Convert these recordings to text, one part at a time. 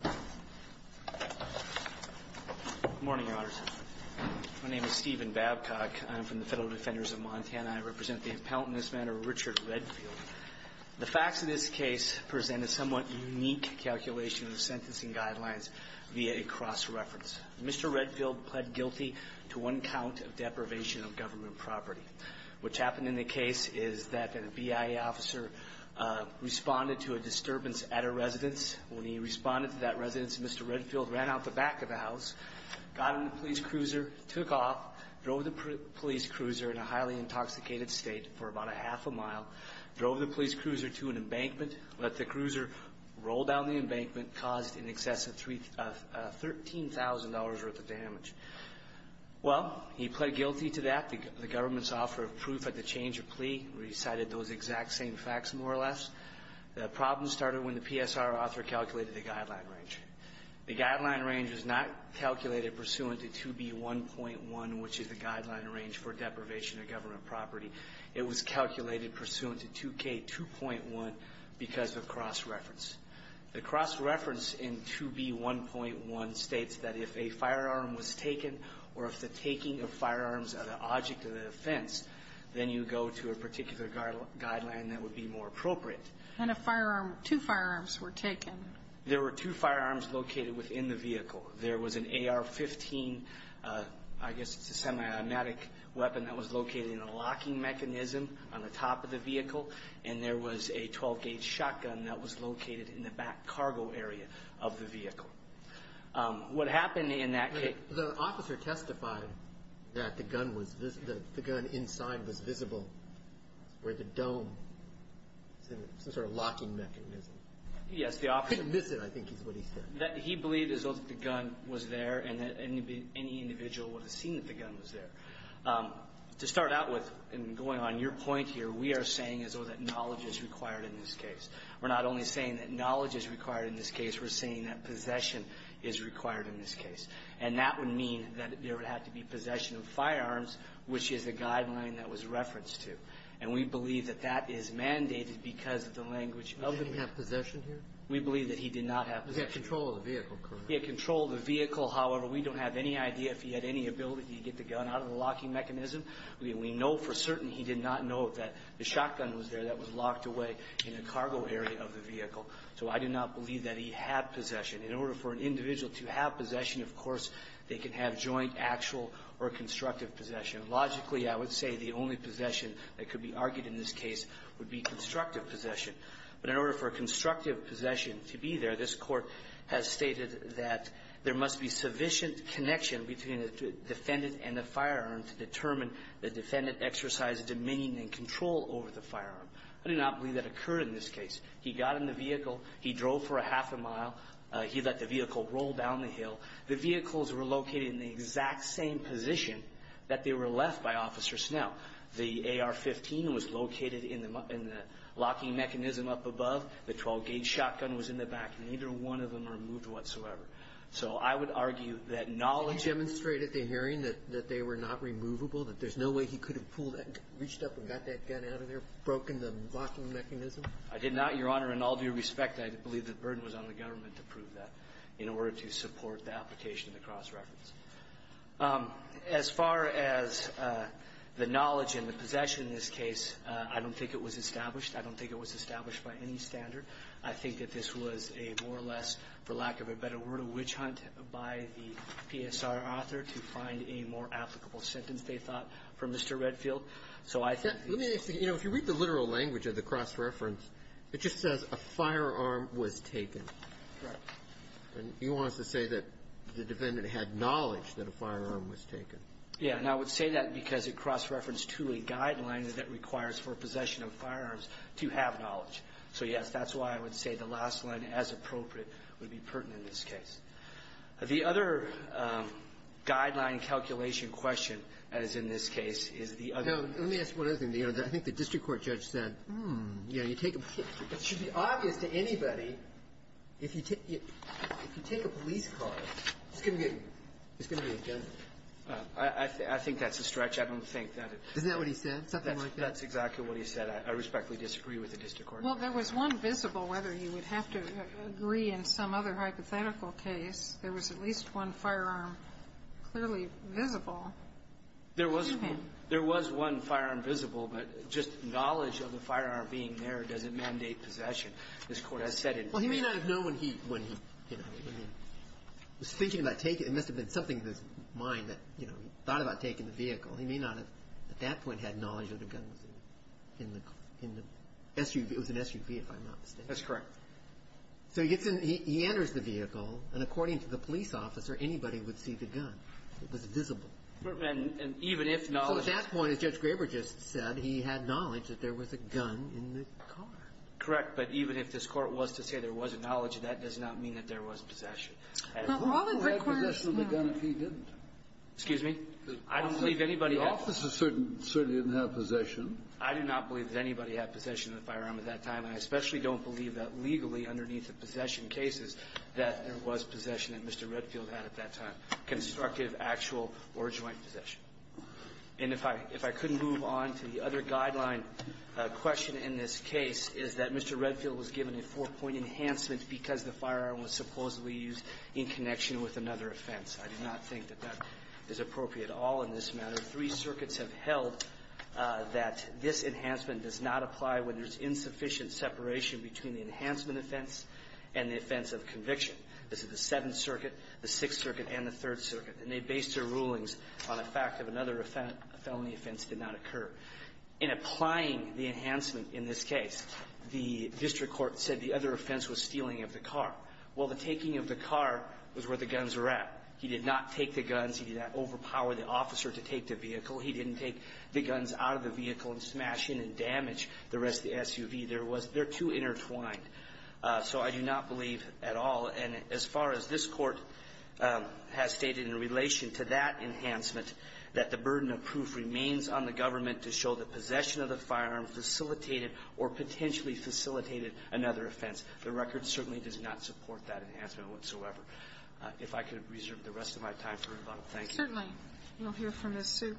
Good morning, Your Honors. My name is Stephen Babcock. I'm from the Federal Defenders of Montana. I represent the Appellant in this matter, Richard Redfield. The facts of this case present a somewhat unique calculation of the sentencing guidelines via a cross-reference. Mr. Redfield pled guilty to one count of deprivation of government property. What happened in the case is that a BIA officer responded to a disturbance at a residence. When he responded to that residence, Mr. Redfield ran out the back of the house, got in the police cruiser, took off, drove the police cruiser in a highly intoxicated state for about a half a mile, drove the police cruiser to an embankment, let the cruiser roll down the embankment, and caused in excess of $13,000 worth of damage. Well, he pled guilty to that. The government's offer of proof at the change of plea recited those exact same facts, more or less. The problem started when the PSR author calculated the guideline range. The guideline range was not calculated pursuant to 2B1.1, which is the guideline range for deprivation of government property. It was calculated pursuant to 2K2.1 because of cross-reference. The cross-reference in 2B1.1 states that if a firearm was taken or if the taking of firearms are the object of the offense, then you go to a particular guideline that would be more appropriate. And if two firearms were taken? There were two firearms located within the vehicle. There was an AR-15, I guess it's a semi-automatic weapon that was located in a locking mechanism on the top of the vehicle. And there was a 12-gauge shotgun that was located in the back cargo area of the vehicle. What happened in that case? The officer testified that the gun inside was visible, where the dome, some sort of locking mechanism. Yes, the officer. Miss it, I think is what he said. He believed as though the gun was there and that any individual would have seen that the gun was there. To start out with, and going on your point here, we are saying as though that knowledge is required in this case. We're not only saying that knowledge is required in this case. We're saying that possession is required in this case. And that would mean that there would have to be possession of firearms, which is the guideline that was referenced to. And we believe that that is mandated because of the language of the man. Did he have possession here? We believe that he did not have possession. He had control of the vehicle, correct? He had control of the vehicle. However, we don't have any idea if he had any ability to get the gun out of the locking mechanism. We know for certain he did not know that the shotgun was there that was locked away in the cargo area of the vehicle. So I do not believe that he had possession. In order for an individual to have possession, of course, they can have joint, actual, or constructive possession. Logically, I would say the only possession that could be argued in this case would be constructive possession. But in order for constructive possession to be there, this Court has stated that there must be sufficient connection between the defendant and the firearm to determine the defendant exercised dominion and control over the firearm. I do not believe that occurred in this case. He got in the vehicle. He drove for a half a mile. He let the vehicle roll down the hill. The vehicles were located in the exact same position that they were left by Officer Snell. The AR-15 was located in the locking mechanism up above. The 12-gauge shotgun was in the back. Neither one of them were moved whatsoever. So I would argue that knowledge of the hearing that they were not removable, that there's no way he could have pulled that, reached up and got that gun out of there, broken the locking mechanism? I did not, Your Honor, in all due respect. I believe the burden was on the government to prove that in order to support the application of the cross-reference. As far as the knowledge and the possession in this case, I don't think it was established. I don't think it was established by any standard. I think that this was a more or less, for lack of a better word, a witch hunt by the PSR author to find a more applicable sentence, they thought, for Mr. Redfield. So I think the next thing you know, if you read the literal language of the cross-reference, it just says a firearm was taken. Right. And he wants to say that the defendant had knowledge that a firearm was taken. Yeah. And I would say that because it cross-referenced to a guideline that requires for possession of firearms to have knowledge. So, yes, that's why I would say the last line, as appropriate, would be pertinent in this case. The other guideline calculation question, as in this case, is the other one. Now, let me ask one other thing. I think the district court judge said, hmm, you know, it should be obvious to anybody, if you take a police car, it's going to be a judge. I think that's a stretch. I don't think that it's going to be a judge. Isn't that what he said, something like that? That's exactly what he said. I respectfully disagree with the district court. Well, there was one visible, whether you would have to agree in some other hypothetical case, there was at least one firearm clearly visible. There was one firearm visible, but just knowledge of the firearm being there doesn't mandate possession. This Court has said it. Well, he may not have known when he, you know, was thinking about taking it. It must have been something in his mind that, you know, he thought about taking the vehicle. He may not have, at that point, had knowledge that the gun was in the SUV. It was an SUV, if I'm not mistaken. That's correct. So he gets in. He enters the vehicle. And according to the police officer, anybody would see the gun. It was visible. And even if knowledge of the gun was there. So at that point, as Judge Graber just said, he had knowledge that there was a gun in the car. Correct. But even if this Court was to say there was a knowledge of that, it does not mean But all that requires now – Who would have possession of the gun if he didn't? Excuse me? I don't believe anybody – The officers certainly didn't have possession. I do not believe that anybody had possession of the firearm at that time, and I especially don't believe that legally underneath the possession cases that there was possession that Mr. Redfield had at that time, constructive, actual, or joint possession. And if I – if I could move on to the other guideline question in this case, is that Mr. Redfield was given a four-point enhancement because the firearm was supposedly used in connection with another offense. I do not think that that is appropriate at all in this matter. Three circuits have held that this enhancement does not apply when there's insufficient separation between the enhancement offense and the offense of conviction. This is the Seventh Circuit, the Sixth Circuit, and the Third Circuit. And they based their rulings on a fact of another offense. A felony offense did not occur. In applying the enhancement in this case, the district court said the other offense was stealing of the car. Well, the taking of the car was where the guns were at. He did not take the guns. He did not overpower the officer to take the vehicle. He didn't take the guns out of the vehicle and smash in and damage the rest of the SUV. There was – they're too intertwined. So I do not believe at all. And as far as this Court has stated in relation to that enhancement, that the burden of proof remains on the government to show the possession of the firearm facilitated or potentially facilitated another offense. The record certainly does not support that enhancement whatsoever. If I could reserve the rest of my time for rebuttal, thank you. Certainly. We'll hear from Ms. Sue.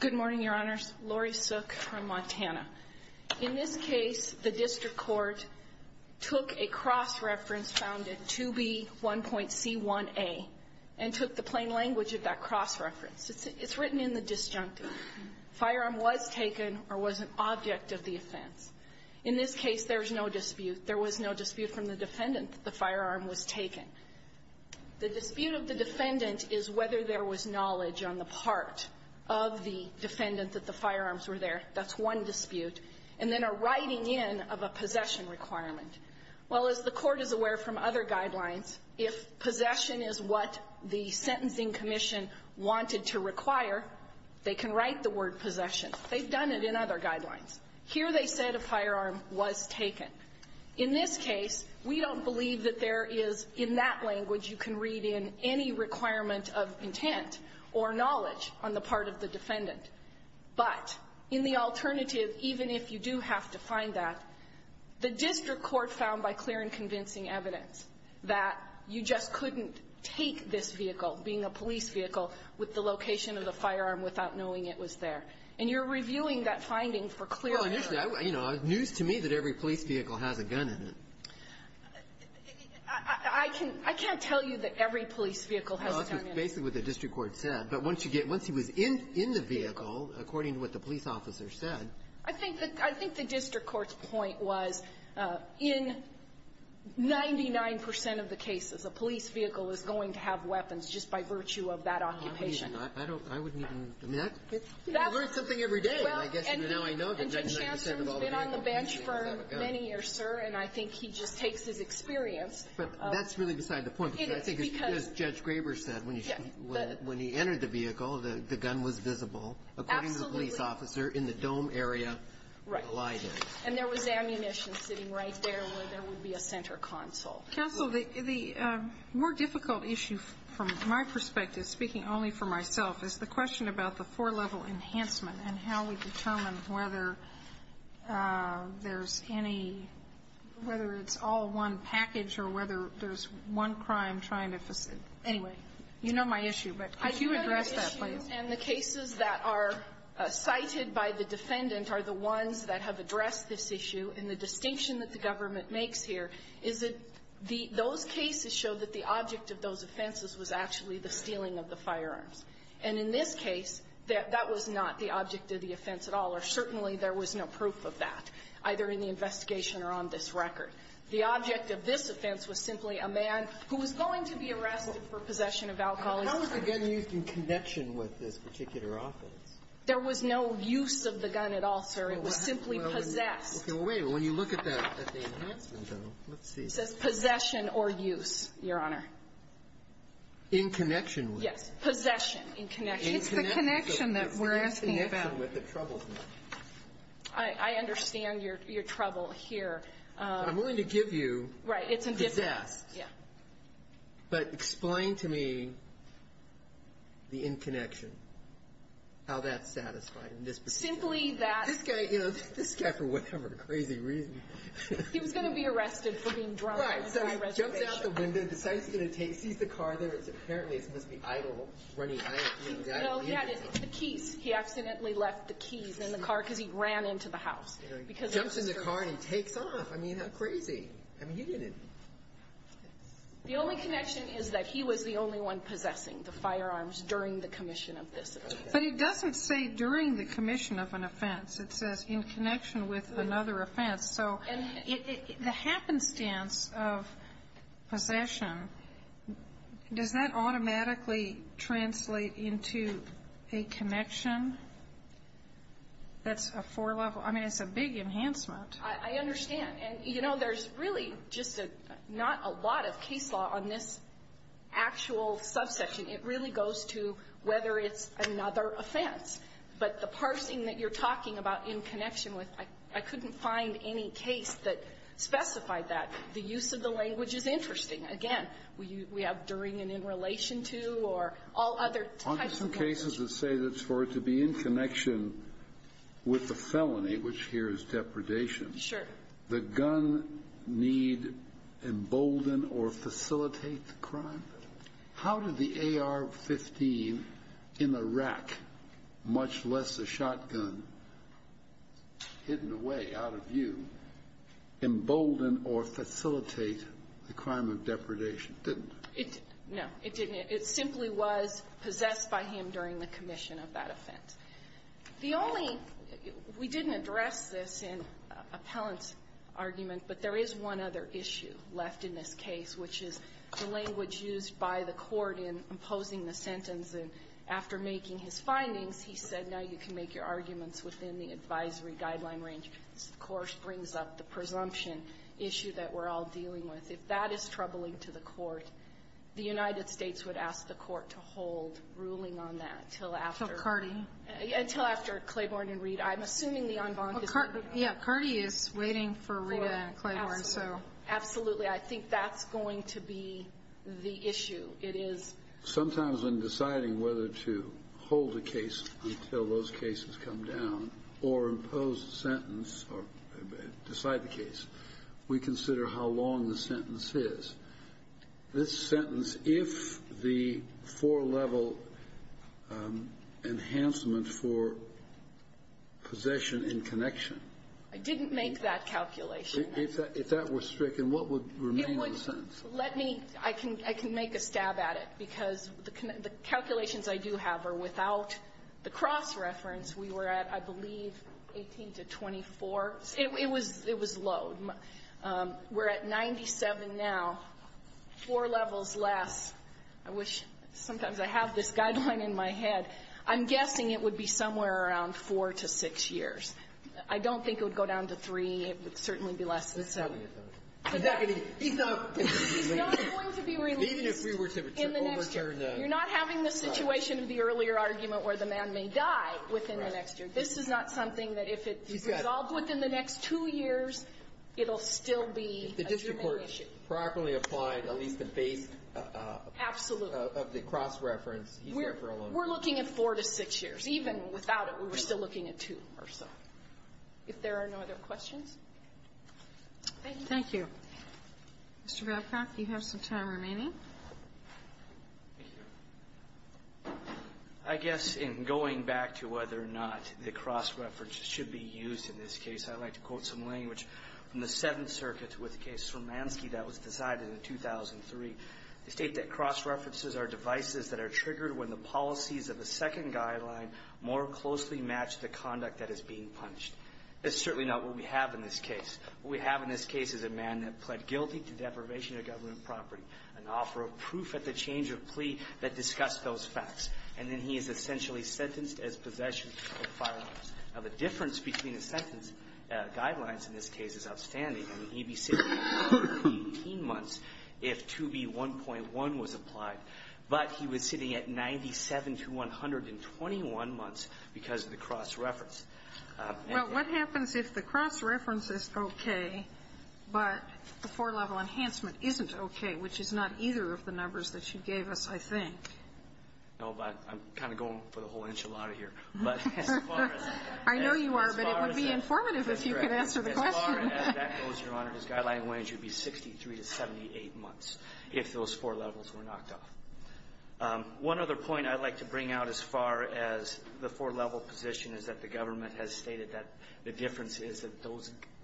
Good morning, Your Honors. Lori Sook from Montana. In this case, the district court took a cross-reference found in 2B1.C1A and took the plain language of that cross-reference. It's written in the disjunctive. The firearm was taken or was an object of the offense. In this case, there is no dispute. There was no dispute from the defendant that the firearm was taken. The dispute of the defendant is whether there was knowledge on the part of the defendant that the firearms were there. That's one dispute. And then a writing in of a possession requirement. Well, as the Court is aware from other guidelines, if possession is what the sentencing commission wanted to require, they can write the word possession. They've done it in other guidelines. Here they said a firearm was taken. In this case, we don't believe that there is, in that language, you can read in any requirement of intent or knowledge on the part of the defendant. But in the alternative, even if you do have to find that, the district court found by clear and convincing evidence that you just couldn't take this vehicle, being a police vehicle, with the location of the firearm without knowing it was there. And you're reviewing that finding for clear evidence. Well, initially, you know, it's news to me that every police vehicle has a gun in it. I can't tell you that every police vehicle has a gun in it. Well, that's basically what the district court said. But once you get, once he was in the vehicle, according to what the police officer said. I think the district court's point was in 99 percent of the cases, a police vehicle is going to have weapons just by virtue of that occupation. I don't, I wouldn't even, I mean, that's, you learn something every day. And I guess now I know that 99 percent of all the cases have a gun. And Judge Hanson's been on the bench for many years, sir. And I think he just takes his experience. But that's really beside the point. It is, because. I think as Judge Graber said, when he entered the vehicle, the gun was visible. Absolutely. According to the police officer in the dome area. Right. And there was ammunition sitting right there where there would be a center console. Counsel, the more difficult issue from my perspective, speaking only for myself, is the question about the four-level enhancement and how we determine whether there's any, whether it's all one package or whether there's one crime trying to facilitate. Anyway, you know my issue. But could you address that, please? I do know your issue. And the cases that are cited by the defendant are the ones that have addressed this issue. And the distinction that the government makes here is that the, those cases show that the object of those offenses was actually the stealing of the firearms. And in this case, that was not the object of the offense at all, or certainly there was no proof of that, either in the investigation or on this record. The object of this offense was simply a man who was going to be arrested for possession of alcohol. How was the gun used in connection with this particular offense? There was no use of the gun at all, sir. It was simply possessed. Okay. Well, wait a minute. When you look at the enhancement, though, let's see. It says possession or use, Your Honor. In connection with? Yes. Possession. In connection. It's the connection that we're asking about. It's the connection with the troubled man. I understand your trouble here. But I'm willing to give you possessed. Right. It's a different. But explain to me the in connection, how that's satisfied in this particular case. Simply that's the case. This guy, you know, this guy, for whatever crazy reason. He was going to be arrested for being drunk. Right. So he jumped out the window. Decides he's going to take. Sees the car there. Apparently it's supposed to be idle. Running. He accidentally left the keys in the car because he ran into the house. Jumps in the car and he takes off. I mean, how crazy. I mean, he didn't. The only connection is that he was the only one possessing the firearms during the commission of this. But it doesn't say during the commission of an offense. It says in connection with another offense. So the happenstance of possession, does that automatically translate into a connection that's a four level? I mean, it's a big enhancement. I understand. And, you know, there's really just not a lot of case law on this actual subsection. It really goes to whether it's another offense. But the parsing that you're talking about in connection with, I couldn't find any case that specified that. The use of the language is interesting. Again, we have during and in relation to or all other types of language. Aren't there some cases that say that for it to be in connection with the felony, which here is depredation. Sure. The gun need embolden or facilitate the crime. How did the AR-15 in a rack, much less a shotgun hidden away out of view, embolden or facilitate the crime of depredation? It didn't. No. It didn't. It simply was possessed by him during the commission of that offense. The only we didn't address this in Appellant's argument, but there is one other issue left in this case, which is the language used by the Court in imposing the sentence. And after making his findings, he said, no, you can make your arguments within the advisory guideline range. This, of course, brings up the presumption issue that we're all dealing with. If that is troubling to the Court, the United States would ask the Court to hold ruling on that until after the carding. Until after Claiborne and Reid. I'm assuming the en banc is not. Absolutely. I think that's going to be the issue. It is. Sometimes when deciding whether to hold a case until those cases come down or impose a sentence or decide the case, we consider how long the sentence is. This sentence, if the four-level enhancement for possession in connection. I didn't make that calculation. If that were stricken, what would remain of the sentence? Let me. I can make a stab at it, because the calculations I do have are without the cross-reference. We were at, I believe, 18 to 24. It was low. We're at 97 now, four levels less. I wish sometimes I have this guideline in my head. I'm guessing it would be somewhere around four to six years. I don't think it would go down to three. It would certainly be less than seven. He's not going to be released in the next year. You're not having the situation of the earlier argument where the man may die within the next year. This is not something that if it resolves within the next two years, it will still be a human issue. If the district court properly applied at least the base of the cross-reference, he's there for a long time. We're looking at four to six years. Even without it, we're still looking at two or so. If there are no other questions. Thank you. Mr. Babcock, you have some time remaining. Thank you. I guess in going back to whether or not the cross-reference should be used in this case, I'd like to quote some language from the Seventh Circuit with the case of Sremansky that was decided in 2003. They state that cross-references are devices that are triggered when the policies of a second guideline more closely match the conduct that is being punished. That's certainly not what we have in this case. What we have in this case is a man that pled guilty to deprivation of government property and offer a proof at the change of plea that discussed those facts. And then he is essentially sentenced as possession of firearms. Now, the difference between the sentence guidelines in this case is outstanding. I mean, he'd be sitting 18 months if 2B1.1 was applied. But he was sitting at 97 to 121 months because of the cross-reference. Well, what happens if the cross-reference is okay, but the four-level enhancement isn't okay, which is not either of the numbers that you gave us, I think? No, but I'm kind of going for the whole enchilada here. I know you are, but it would be informative if you could answer the question. As far as that goes, Your Honor, his guideline range would be 63 to 78 months if those four levels were knocked off. One other point I'd like to bring out as far as the four-level position is that the government has stated that the difference is that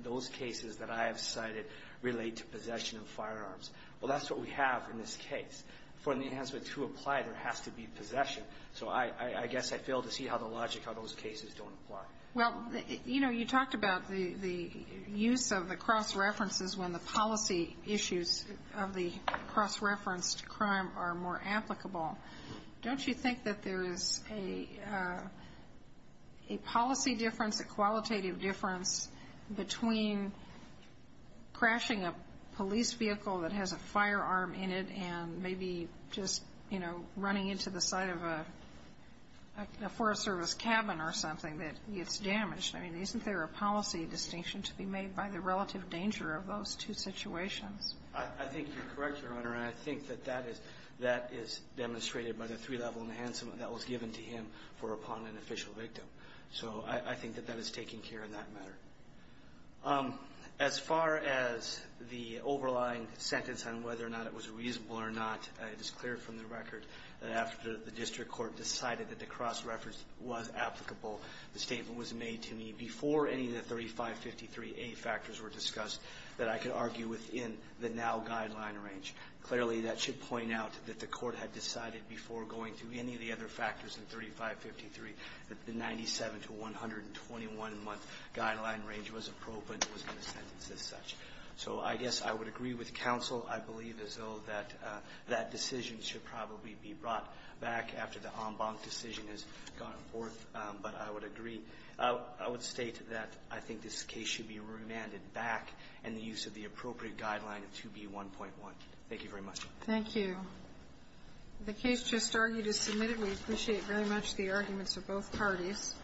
those cases that I have cited relate to possession of firearms. Well, that's what we have in this case. For the enhancement to apply, there has to be possession. So I guess I fail to see how the logic of those cases don't apply. Well, you know, you talked about the use of the cross-references when the policy issues of the cross-referenced crime are more applicable. Don't you think that there is a policy difference, a qualitative difference, between crashing a police vehicle that has a firearm in it and maybe just, you know, running into the side of a Forest Service cabin or something that gets damaged? I mean, isn't there a policy distinction to be made by the relative danger of those two situations? I think you're correct, Your Honor. And I think that that is demonstrated by the three-level enhancement that was given to him for upon an official victim. So I think that that is taken care of in that matter. As far as the overlying sentence on whether or not it was reasonable or not, it is clear from the record that after the district court decided that the cross-reference was applicable, the statement was made to me before any of the 3553A factors were discussed that I could argue within the now guideline range. Clearly, that should point out that the Court had decided before going through any of the other factors in 3553 that the 97-to-121-month guideline range was appropriate and was in the sentence as such. So I guess I would agree with counsel. I believe as though that that decision should probably be brought back after the But I would agree. I would state that I think this case should be remanded back in the use of the appropriate guideline of 2B1.1. Thank you very much. Thank you. The case just argued is submitted. We appreciate very much the arguments of both parties.